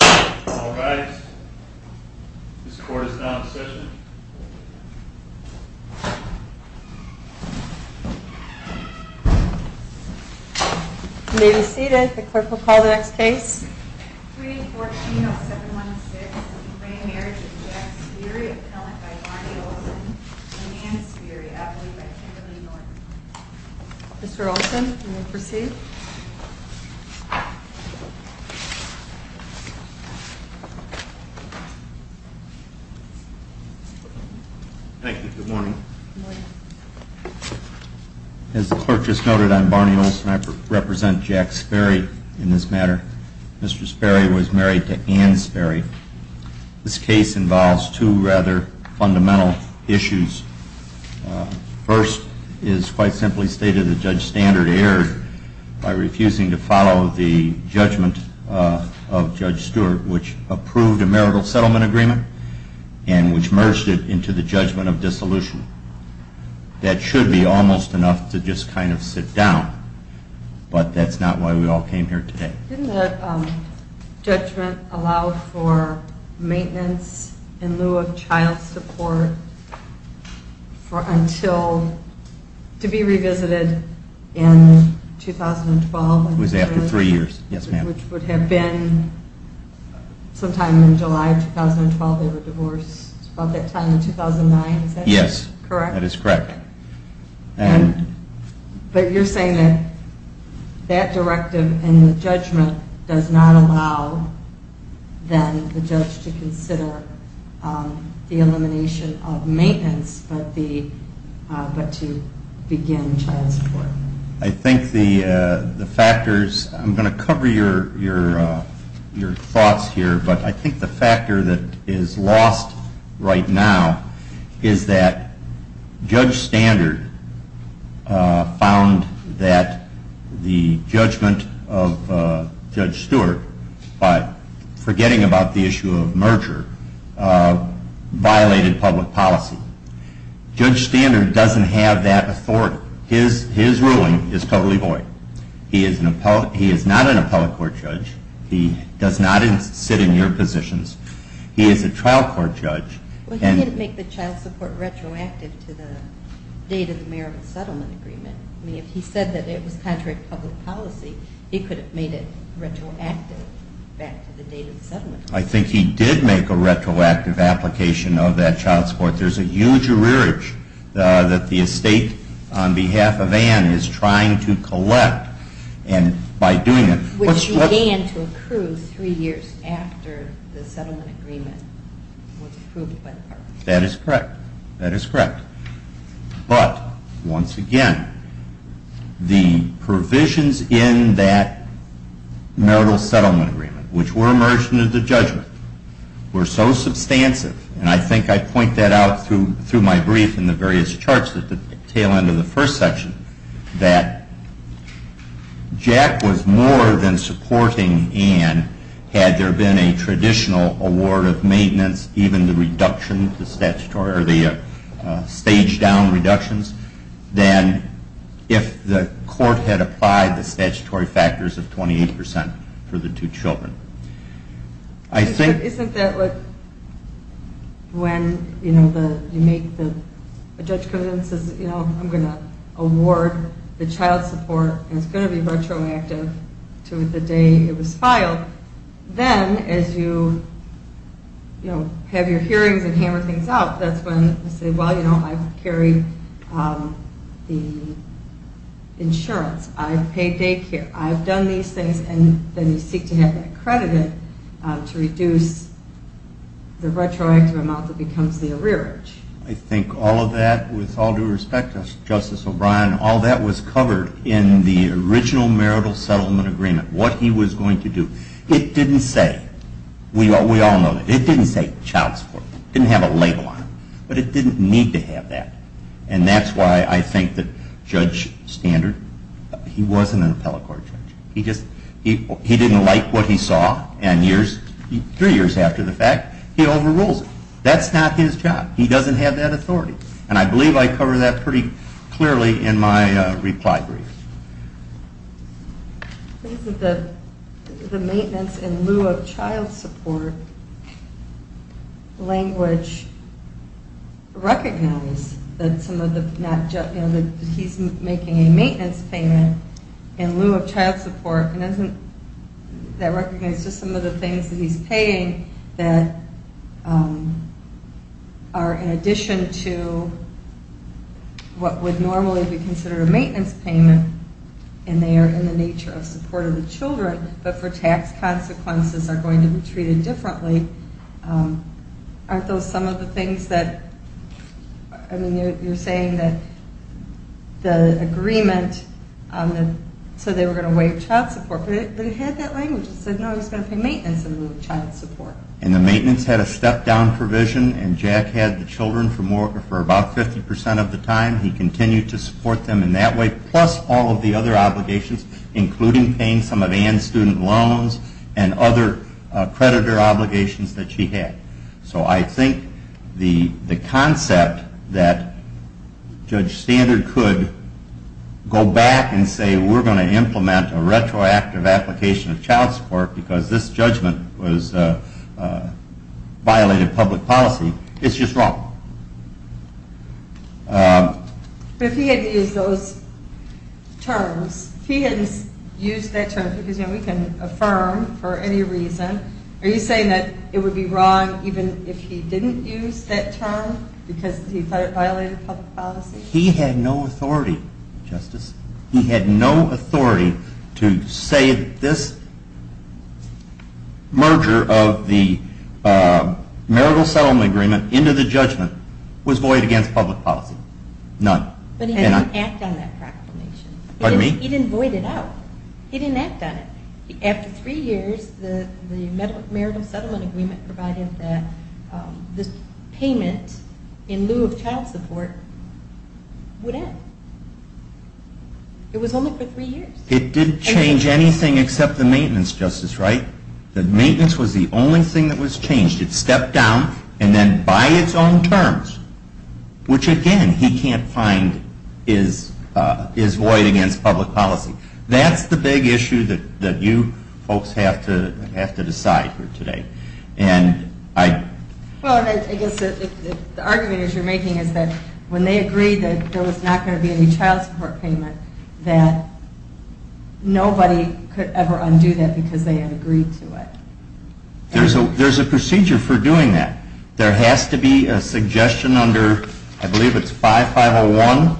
All rise. This court is now in session. You may be seated. The clerk will call the next case. 3-14-0716 Re-marriage of Jack Sperry, Appellant by Barney Olson and Ann Sperry, Appellant by Kimberly Norton. Mr. Olson, you may proceed. Thank you. Good morning. Good morning. As the clerk just noted, I'm Barney Olson. I represent Jack Sperry in this matter. Mr. Sperry was married to Ann Sperry. This case involves two rather fundamental issues. The first is quite simply stated that Judge Standard erred by refusing to follow the judgment of Judge Stewart, which approved a marital settlement agreement and which merged it into the judgment of dissolution. That should be almost enough to just kind of sit down, but that's not why we all came here today. Didn't the judgment allow for maintenance in lieu of child support to be revisited in 2012? It was after three years, yes, ma'am. Which would have been sometime in July of 2012. They were divorced about that time in 2009. Is that correct? Yes, that is correct. But you're saying that that directive in the judgment does not allow then the judge to consider the elimination of maintenance but to begin child support. I think the factors, I'm going to cover your thoughts here, but I think the factor that is lost right now is that Judge Standard found that the judgment of Judge Stewart by forgetting about the issue of merger violated public policy. Judge Standard doesn't have that authority. His ruling is totally void. He is not an appellate court judge. He does not sit in your positions. He is a trial court judge. Well, he didn't make the child support retroactive to the date of the merriment settlement agreement. I mean, if he said that it was contrary to public policy, he could have made it retroactive back to the date of the settlement. I think he did make a retroactive application of that child support. There's a huge arrearage that the estate on behalf of Ann is trying to collect, and by doing it Which began to accrue three years after the settlement agreement was approved. That is correct. That is correct. But, once again, the provisions in that marital settlement agreement, which were a merger to the judgment, were so substantive, and I think I point that out through my brief in the various charts at the tail end of the first section, that Jack was more than supporting Ann, had there been a traditional award of maintenance, even the reduction, the statutory, or the staged down reductions, than if the court had applied the statutory factors of 28% for the two children. Isn't that what, when you make the, a judge comes in and says, you know, I'm going to award the child support and it's going to be retroactive to the day it was filed, then as you, you know, have your hearings and hammer things out, that's when you say, well, you know, I've carried the insurance, I've paid daycare, I've done these things, and then you seek to have that credited to reduce the retroactive amount that becomes the arrearage. I think all of that, with all due respect to Justice O'Brien, all that was covered in the original marital settlement agreement, what he was going to do. It didn't say, we all know that, it didn't say child support. It didn't have a label on it, but it didn't need to have that. And that's why I think that Judge Standard, he wasn't an appellate court judge. He just, he didn't like what he saw, and years, three years after the fact, he overrules it. That's not his job. He doesn't have that authority. And I believe I covered that pretty clearly in my reply brief. I think that the maintenance in lieu of child support language recognized that some of the, that he's making a maintenance payment in lieu of child support, and doesn't that recognize just some of the things that he's paying that are in addition to what would normally be considered a maintenance payment, and they are in the nature of support of the children, but for tax consequences are going to be treated differently. Aren't those some of the things that, I mean, you're saying that the agreement on the, so they were going to waive child support, but it had that language. It said, no, he's going to pay maintenance in lieu of child support. And the maintenance had a step-down provision, and Jack had the children for about 50% of the time. He continued to support them in that way, plus all of the other obligations, including paying some of Ann's student loans and other creditor obligations that she had. So I think the concept that Judge Standard could go back and say, we're going to implement a retroactive application of child support because this judgment violated public policy, it's just wrong. But if he hadn't used those terms, if he hadn't used that term, because, you know, we can affirm for any reason, are you saying that it would be wrong even if he didn't use that term because he thought it violated public policy? He had no authority, Justice. He had no authority to say that this merger of the marital settlement agreement into the judgment was void against public policy, none. But he didn't act on that proclamation. Pardon me? He didn't void it out. He didn't act on it. After three years, the marital settlement agreement provided that the payment in lieu of child support would end. It was only for three years. It didn't change anything except the maintenance, Justice, right? The maintenance was the only thing that was changed. It stepped down and then by its own terms, which again, he can't find is void against public policy. Well, I guess the argument that you're making is that when they agreed that there was not going to be any child support payment, that nobody could ever undo that because they had agreed to it. There's a procedure for doing that. There has to be a suggestion under, I believe it's 5501,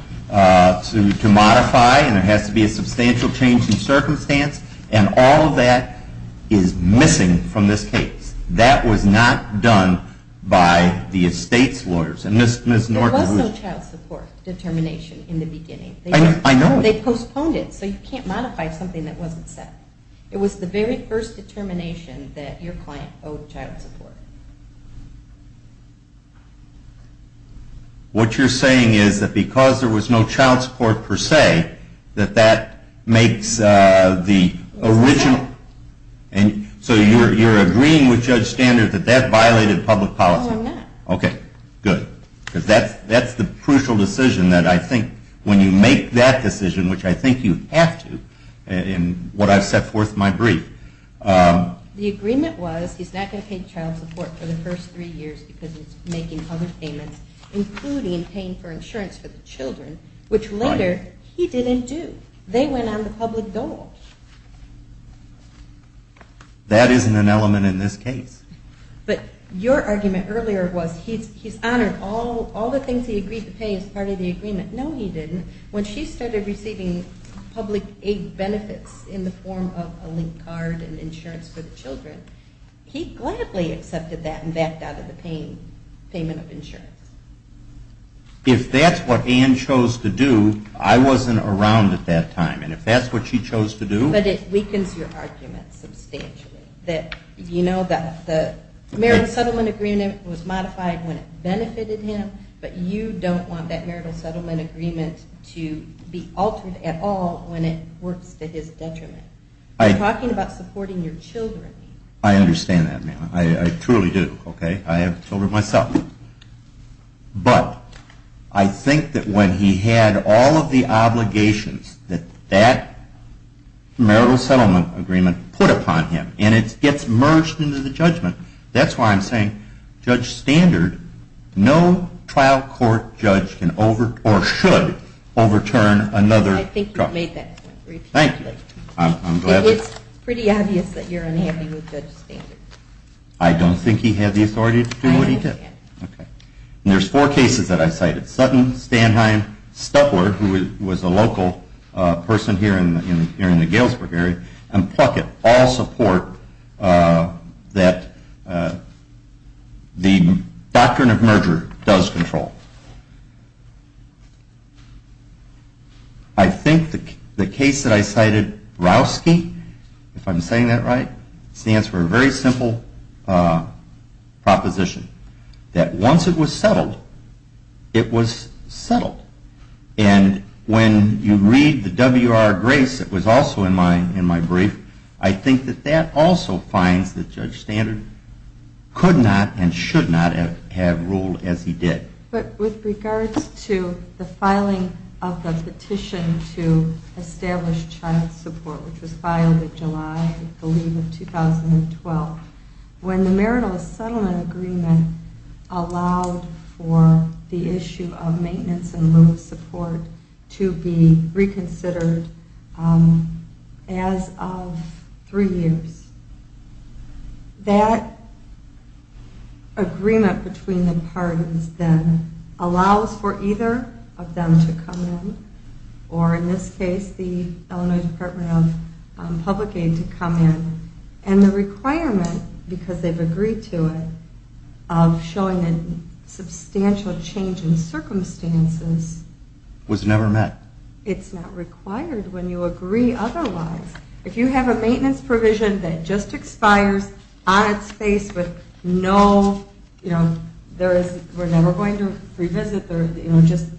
to modify and there has to be a substantial change in circumstance and all of that is missing from this case. That was not done by the estate's lawyers. There was no child support determination in the beginning. I know. They postponed it so you can't modify something that wasn't set. It was the very first determination that your client owed child support. What you're saying is that because there was no child support per se, that that makes the original, so you're agreeing with Judge Standard that that violated public policy. No, I'm not. Okay, good. Because that's the crucial decision that I think when you make that decision, which I think you have to in what I've set forth in my brief. The agreement was he's not going to pay child support for the first three years because he's making other payments, including paying for insurance for the children, which later he didn't do. They went on the public dole. That isn't an element in this case. But your argument earlier was he's honored all the things he agreed to pay as part of the agreement. No, he didn't. When she started receiving public aid benefits in the form of a link card and insurance for the children, he gladly accepted that and backed out of the payment of insurance. If that's what Ann chose to do, I wasn't around at that time. And if that's what she chose to do. But it weakens your argument substantially. You know that the marital settlement agreement was modified when it benefited him, but you don't want that marital settlement agreement to be altered at all when it works to his detriment. You're talking about supporting your children. I understand that, ma'am. I truly do. Okay. I have children myself. But I think that when he had all of the obligations that that marital settlement agreement put upon him, and it gets merged into the judgment, that's why I'm saying Judge Standard, no trial court judge can overturn or should overturn another. I think you've made that point repeatedly. Thank you. It's pretty obvious that you're unhappy with Judge Standard. I don't think he had the authority to do what he did. Okay. And there's four cases that I cited. Sutton, Standheim, Stutler, who was a local person here in the Galesburg area, and Pluckett all support that the doctrine of merger does control. I think the case that I cited, Rowski, if I'm saying that right, stands for a very simple proposition, that once it was settled, it was settled. And when you read the WR Grace that was also in my brief, I think that that also finds that Judge Standard could not and should not have ruled as he did. But with regards to the filing of the petition to establish child support, which was filed in July, I believe, of 2012, when the marital settlement agreement allowed for the issue of maintenance and loan support to be reconsidered as of three years, that agreement between the pardons then allows for either of them to come in, or in this case, the Illinois Department of Public Aid to come in. And the requirement, because they've agreed to it, of showing a substantial change in circumstances was never met. It's not required when you agree otherwise. If you have a maintenance provision that just expires on its face with no, you know, we're never going to revisit, you know, just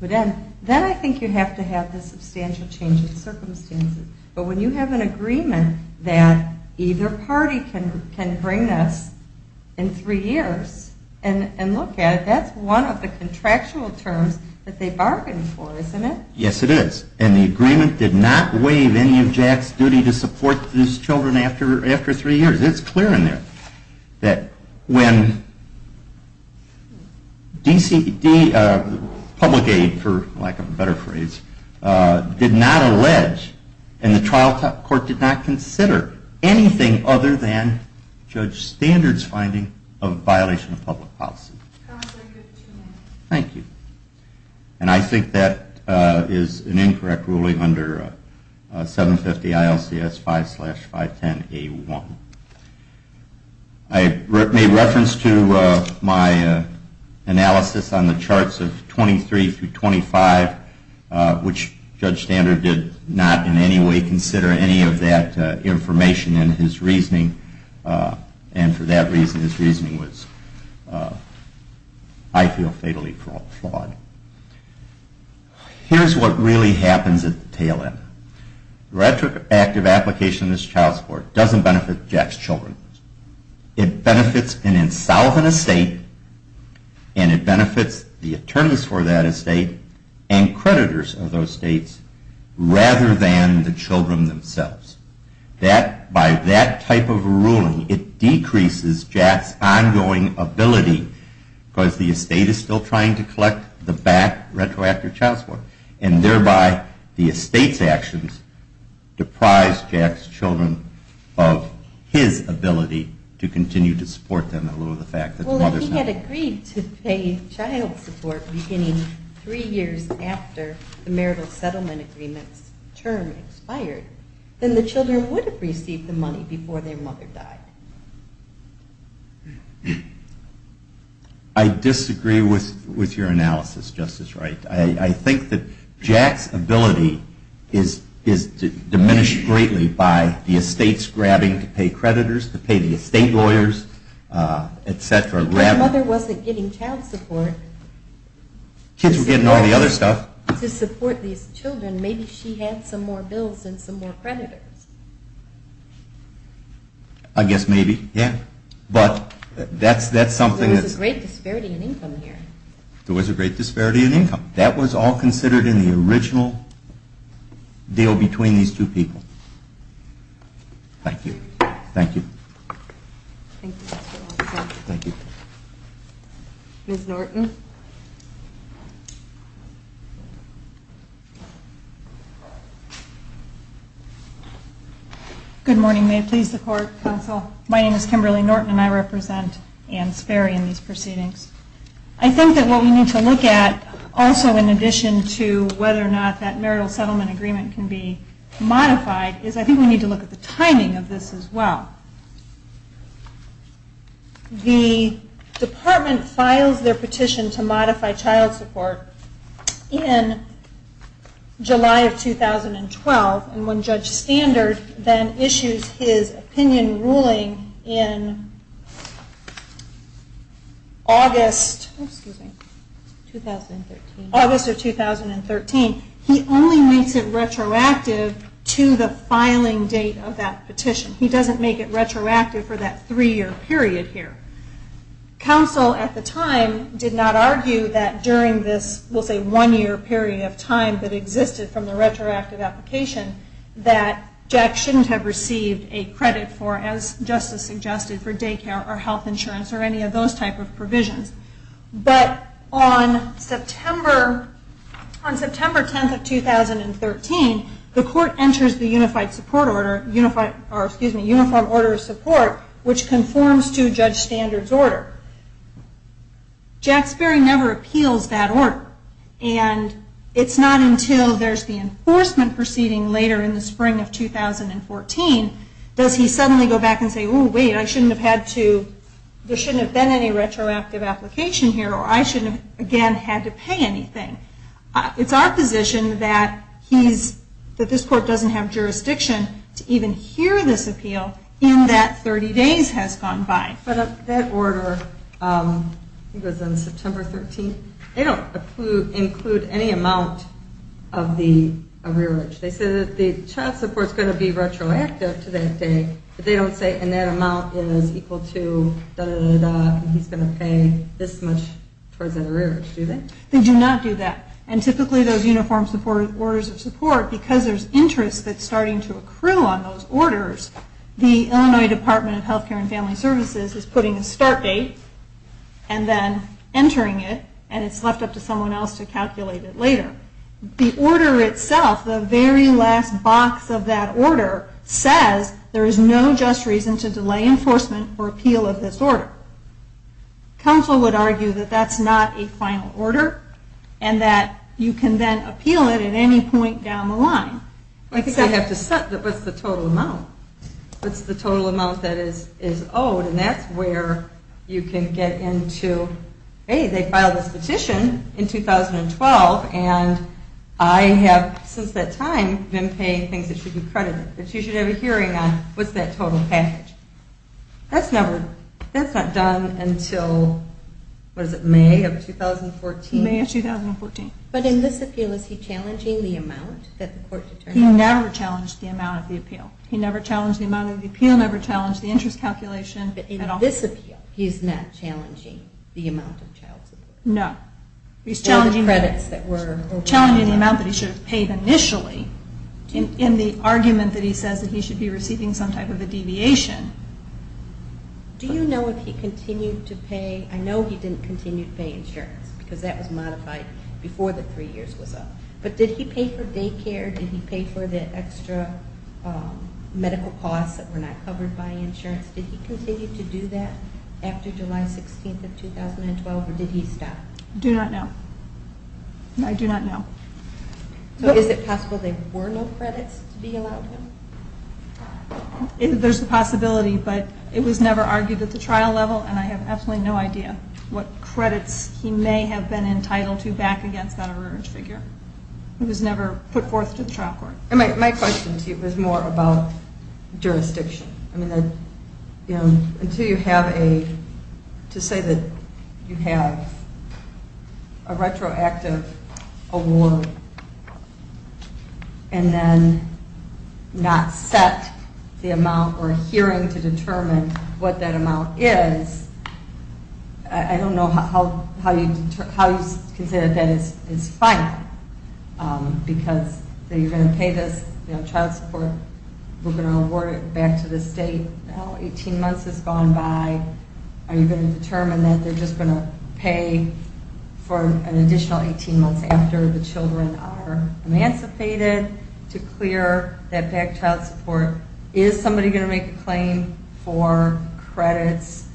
put in, then I think you have to have the substantial change in circumstances. But when you have an agreement that either party can bring us in three years, and look at it, that's one of the contractual terms that they bargained for, isn't it? Yes, it is. And the agreement did not waive any of Jack's duty to support these children after three years. It's clear in there that when public aid, for lack of a better phrase, did not allege, and the trial court did not consider anything other than Judge Standard's finding of violation of public policy. Thank you. And I think that is an incorrect ruling under 750 ILCS 5 slash 510A1. I made reference to my analysis on the charts of 23 through 25, which Judge Standard did not in any way consider any of that information in his reasoning. And for that reason, his reasoning was, I feel, fatally flawed. Here's what really happens at the tail end. Retroactive application of this child support doesn't benefit Jack's children. It benefits an insolvent estate, and it benefits the attorneys for that estate, and creditors of those states, rather than the children themselves. By that type of ruling, it decreases Jack's ongoing ability, because the estate is still trying to collect the back retroactive child support. And thereby, the estate's actions deprise Jack's children of his ability to continue to support them, in lieu of the fact that the mother's not. Well, if he had agreed to pay child support beginning three years after the marital settlement agreement's term expired, then the children would have received the money before their mother died. I disagree with your analysis, Justice Wright. I think that Jack's ability is diminished greatly by the estates grabbing to pay creditors, to pay the estate lawyers, etc. If the mother wasn't getting child support... Kids were getting all the other stuff. To support these children, maybe she had some more bills and some more creditors. I guess maybe, yeah. But that's something... There was a great disparity in income here. There was a great disparity in income. That was all considered in the original deal between these two people. Thank you. Thank you. Ms. Norton? Thank you. Good morning. May it please the Court, Counsel. My name is Kimberly Norton and I represent Ann Sperry in these proceedings. I think that what we need to look at, also in addition to whether or not that marital settlement agreement can be modified, is I think we need to look at the timing of this as well. The department files their petition to modify child support in July of 2012, and when Judge Standard then issues his opinion ruling in August of 2013, he only makes it retroactive to the filing date of that petition. He doesn't make it retroactive for that three-year period here. Counsel, at the time, did not argue that during this, we'll say one-year period of time that existed from the retroactive application, that Jack shouldn't have received a credit for, as Justice suggested, for daycare or health insurance or any of those type of provisions. But on September 10th of 2013, the Court enters the Uniform Order of Support, which conforms to Judge Standard's order. Jack Sperry never appeals that order, and it's not until there's the enforcement proceeding later in the spring of 2014 does he suddenly go back and say, oh wait, there shouldn't have been any retroactive application here, or I shouldn't have, again, had to pay anything. It's our position that this Court doesn't have jurisdiction to even hear this appeal in that 30 days has gone by. But that order, I think it was on September 13th, they don't include any amount of the arrearage. They say that the child support's going to be retroactive to that day, but they don't say, and that amount is equal to, da-da-da-da-da, and he's going to pay this much towards that arrearage, do they? They do not do that. And typically those Uniform Orders of Support, because there's interest that's starting to accrue on those orders, the Illinois Department of Health Care and Family Services is putting a start date and then entering it, and it's left up to someone else to calculate it later. The order itself, the very last box of that order, says there is no just reason to delay enforcement or appeal of this order. Counsel would argue that that's not a final order, and that you can then appeal it at any point down the line. I think they have to set what's the total amount. What's the total amount that is owed, and that's where you can get into, hey, they filed this petition in 2012, and I have since that time been paying things that should be credited, that you should have a hearing on. What's that total package? That's not done until, what is it, May of 2014? May of 2014. But in this appeal, is he challenging the amount that the court determines? He never challenged the amount of the appeal. He never challenged the amount of the appeal, never challenged the interest calculation at all. But in this appeal, he's not challenging the amount of child support? No. He's challenging the amount that he should have paid initially, in the argument that he says that he should be receiving some type of a deviation. Do you know if he continued to pay? I know he didn't continue to pay insurance, because that was modified before the three years was up. But did he pay for daycare? Did he pay for the extra medical costs that were not covered by insurance? Did he continue to do that after July 16th of 2012, or did he stop? I do not know. I do not know. So is it possible there were no credits to be allowed to him? There's a possibility, but it was never argued at the trial level, and I have absolutely no idea what credits he may have been entitled to back against that urge figure. It was never put forth to the trial court. My question to you is more about jurisdiction. Until you have a, to say that you have a retroactive award and then not set the amount or a hearing to determine what that amount is, I don't know how you can say that that is fine, because you're going to pay this child support. We're going to award it back to the state. Eighteen months has gone by. Are you going to determine that they're just going to pay for an additional 18 months after the children are emancipated to clear that back child support? Is somebody going to make a claim for credits?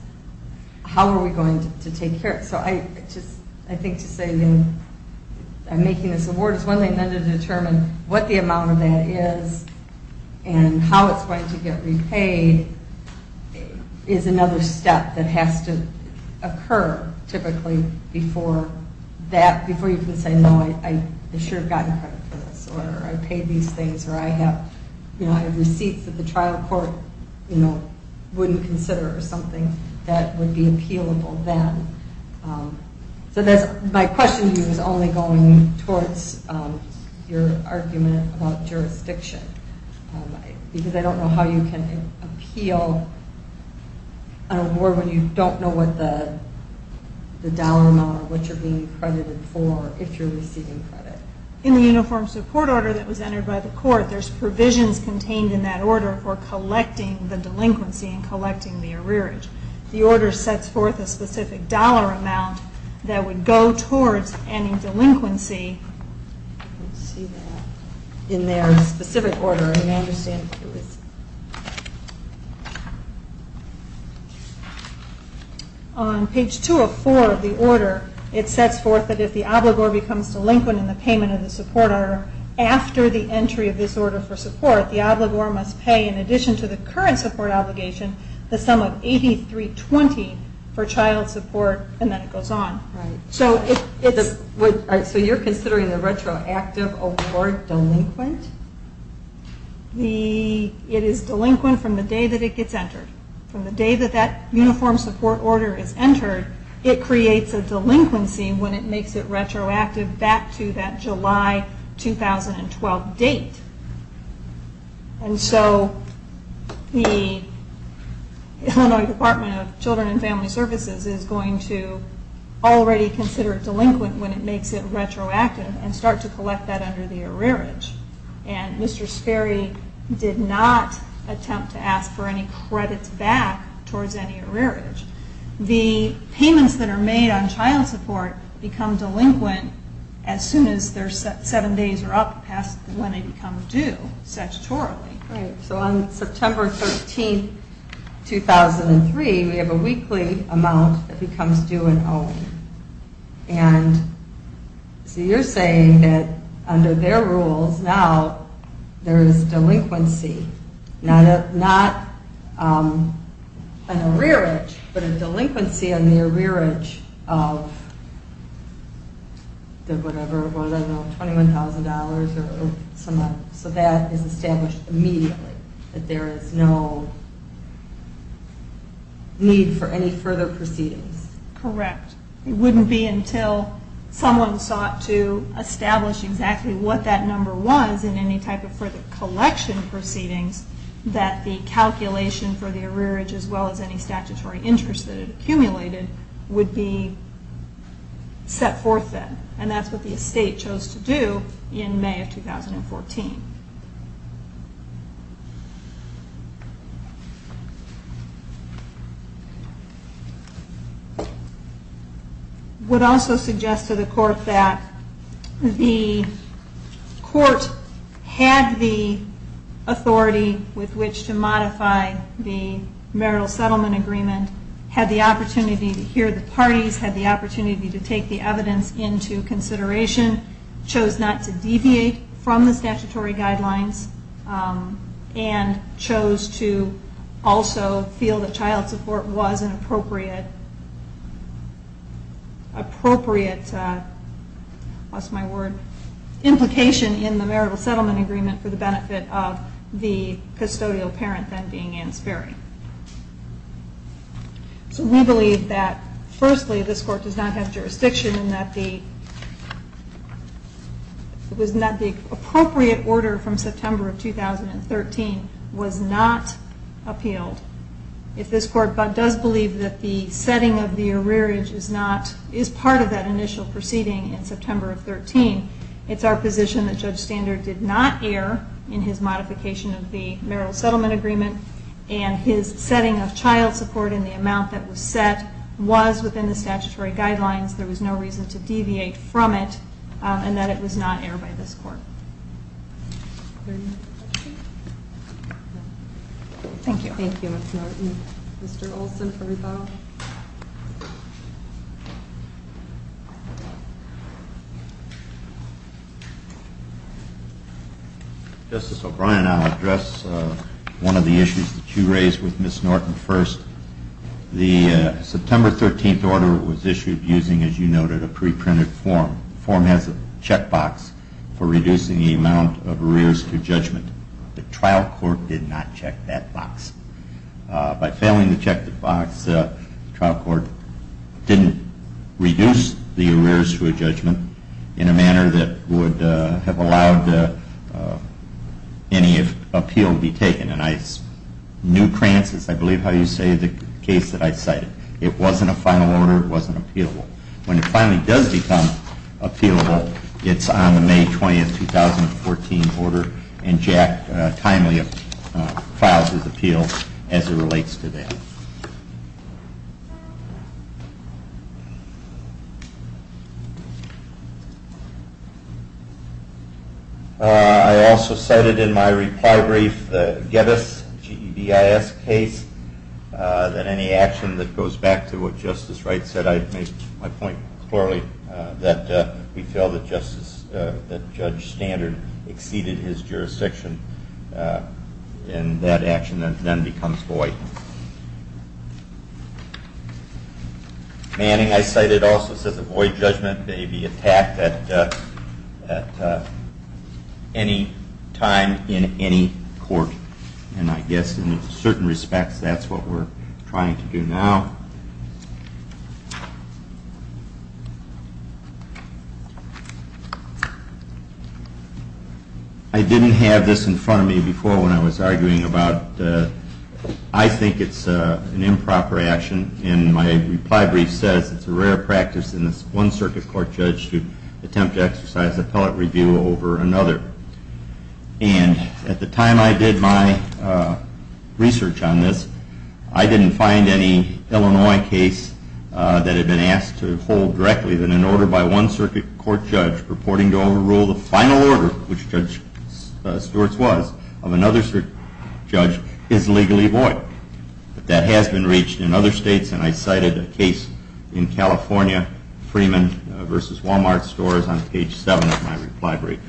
How are we going to take care of it? I think to say that I'm making this award is one thing. Then to determine what the amount of that is and how it's going to get repaid is another step that has to occur typically before you can say, no, I should have gotten credit for this or I paid these things or I have receipts that the trial court wouldn't consider or something that would be appealable then. So my question to you is only going towards your argument about jurisdiction, because I don't know how you can appeal an award when you don't know what the dollar amount or what you're being credited for if you're receiving credit. In the uniform support order that was entered by the court, there's provisions contained in that order for collecting the delinquency and collecting the arrearage. The order sets forth a specific dollar amount that would go towards any delinquency in their specific order. On page 204 of the order, it sets forth that if the obligor becomes delinquent in the payment of the support order, after the entry of this order for support, the obligor must pay in addition to the current support obligation the sum of $8320 for child support and then it goes on. So you're considering the retroactive award delinquent? It is delinquent from the day that it gets entered. From the day that that uniform support order is entered, it creates a delinquency when it makes it retroactive back to that July 2012 date. And so the Illinois Department of Children and Family Services is going to already consider it delinquent when it makes it retroactive and start to collect that under the arrearage. And Mr. Sperry did not attempt to ask for any credits back towards any arrearage. The payments that are made on child support become delinquent as soon as their seven days are up past when they become due statutorily. So on September 13, 2003, we have a weekly amount that becomes due in Owing. And so you're saying that under their rules now there is delinquency, not an arrearage, but a delinquency on the arrearage of the $21,000. So that is established immediately that there is no need for any further proceedings. Correct. It wouldn't be until someone sought to establish exactly what that number was and any type of further collection proceedings, that the calculation for the arrearage as well as any statutory interest that it accumulated would be set forth then. And that's what the estate chose to do in May of 2014. I would also suggest to the court that the court had the authority with which to modify the marital settlement agreement, had the opportunity to hear the parties, had the opportunity to take the evidence into consideration, chose not to deviate from the statutory guidelines, and chose to also feel that child support was an appropriate implication in the marital settlement agreement for the benefit of the custodial parent then being Ann Sperry. So we believe that, firstly, this court does not have jurisdiction in that the appropriate order from September of 2013 was not appealed. If this court does believe that the setting of the arrearage is part of that initial proceeding in September of 2013, it's our position that Judge Standard did not err in his modification of the marital settlement agreement and his setting of child support in the amount that was set was within the statutory guidelines. There was no reason to deviate from it and that it was not erred by this court. Thank you. Thank you, Ms. Norton. Mr. Olson for rebuttal. Justice O'Brien, I'll address one of the issues that you raised with Ms. Norton first. The September 13th order was issued using, as you noted, a preprinted form. The form has a checkbox for reducing the amount of arrears to judgment. The trial court did not check that box. By failing to check the box, the trial court didn't reduce the arrears to a judgment in a manner that would have allowed any appeal to be taken. And I knew, Krantz, as I believe how you say, the case that I cited. It wasn't a final order. It wasn't appealable. When it finally does become appealable, it's on the May 20th, 2014 order, and Jack timely files his appeal as it relates to that. Thank you. I also cited in my reply brief the Geddes, G-E-D-I-S case, that any action that goes back to what Justice Wright said, I make my point clearly that we feel that Judge Standard exceeded his jurisdiction, and that action then becomes void. Manning, I cited also, says a void judgment may be attacked at any time in any court, and I guess in certain respects that's what we're trying to do now. I didn't have this in front of me before when I was arguing about, I think it's an improper action, and my reply brief says it's a rare practice in this one circuit court judge to attempt to exercise appellate review over another. And at the time I did my research on this, that had been asked to hold directly, then an order by one circuit court judge purporting to overrule the final order, which Judge Stewart's was, of another judge is legally void. That has been reached in other states, and I cited a case in California, Freeman v. Wal-Mart stores on page 7 of my reply brief.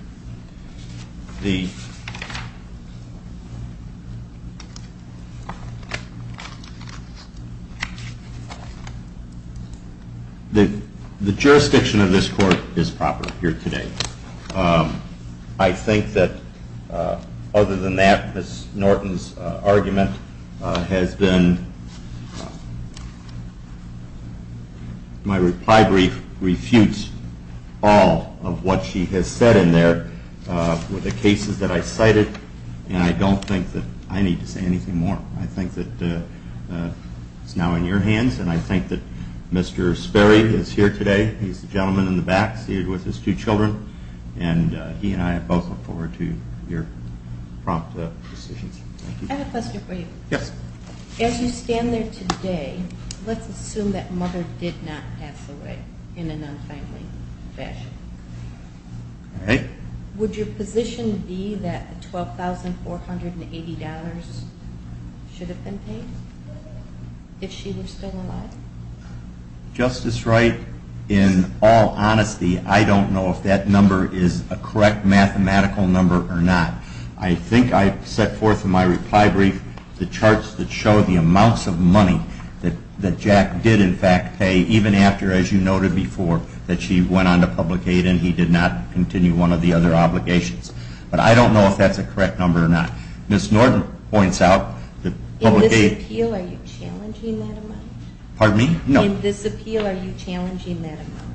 The jurisdiction of this court is proper here today. I think that other than that, Ms. Norton's argument has been, my reply brief refutes all of what she has said in there with the cases that I cited, and I don't think that I need to say anything more. I think that it's now in your hands, and I think that Mr. Sperry is here today. He's the gentleman in the back seated with his two children, and he and I both look forward to your prompt decisions. I have a question for you. Yes. As you stand there today, let's assume that Mother did not pass away in an unfriendly fashion. All right. Would your position be that $12,480 should have been paid if she were still alive? Justice Wright, in all honesty, I don't know if that number is a correct mathematical number or not. I think I set forth in my reply brief the charts that show the amounts of money that Jack did, in fact, pay even after, as you noted before, that she went on to public aid and he did not continue one of the other obligations. But I don't know if that's a correct number or not. Ms. Norton points out that public aid— In this appeal, are you challenging that amount? Pardon me? No. In this appeal, are you challenging that amount?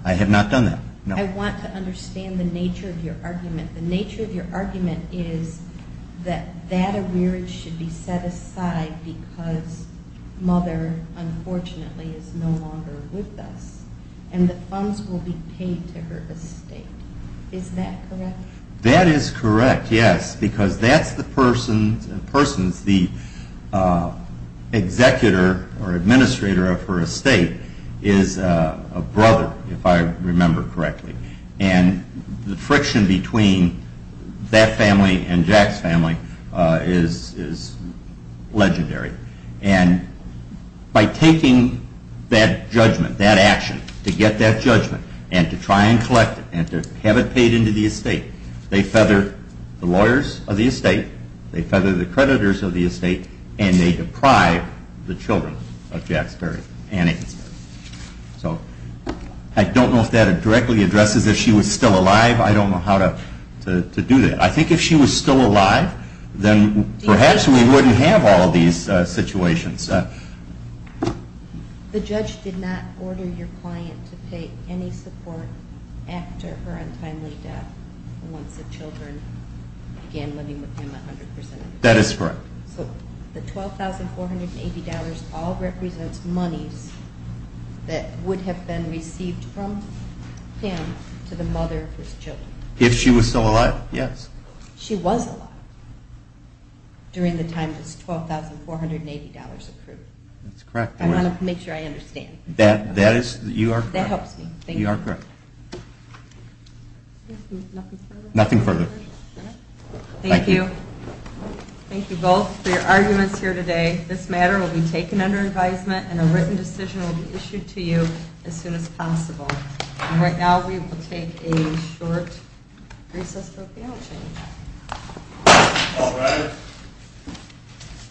I want to understand the nature of your argument. The nature of your argument is that that arrearage should be set aside because Mother, unfortunately, is no longer with us and the funds will be paid to her estate. Is that correct? That is correct, yes, because that's the person's—the executor or administrator of her estate is a brother, if I remember correctly. And the friction between that family and Jack's family is legendary. And by taking that judgment, that action, to get that judgment, and to try and collect it, and to have it paid into the estate, they feather the lawyers of the estate, they feather the creditors of the estate, and they deprive the children of Jack's family. So I don't know if that directly addresses if she was still alive. I don't know how to do that. I think if she was still alive, then perhaps we wouldn't have all these situations. The judge did not order your client to pay any support after her untimely death, once the children began living with him 100 percent of the time. That is correct. So the $12,480 all represents monies that would have been received from him to the mother of his children. If she was still alive, yes. She was alive during the time this $12,480 accrued. That's correct. I want to make sure I understand. That is—you are correct. That helps me. You are correct. Nothing further? Nothing further. Thank you. Thank you both for your arguments here today. This matter will be taken under advisement, and a written decision will be issued to you as soon as possible. And right now, we will take a short recess for appeal change. All rise.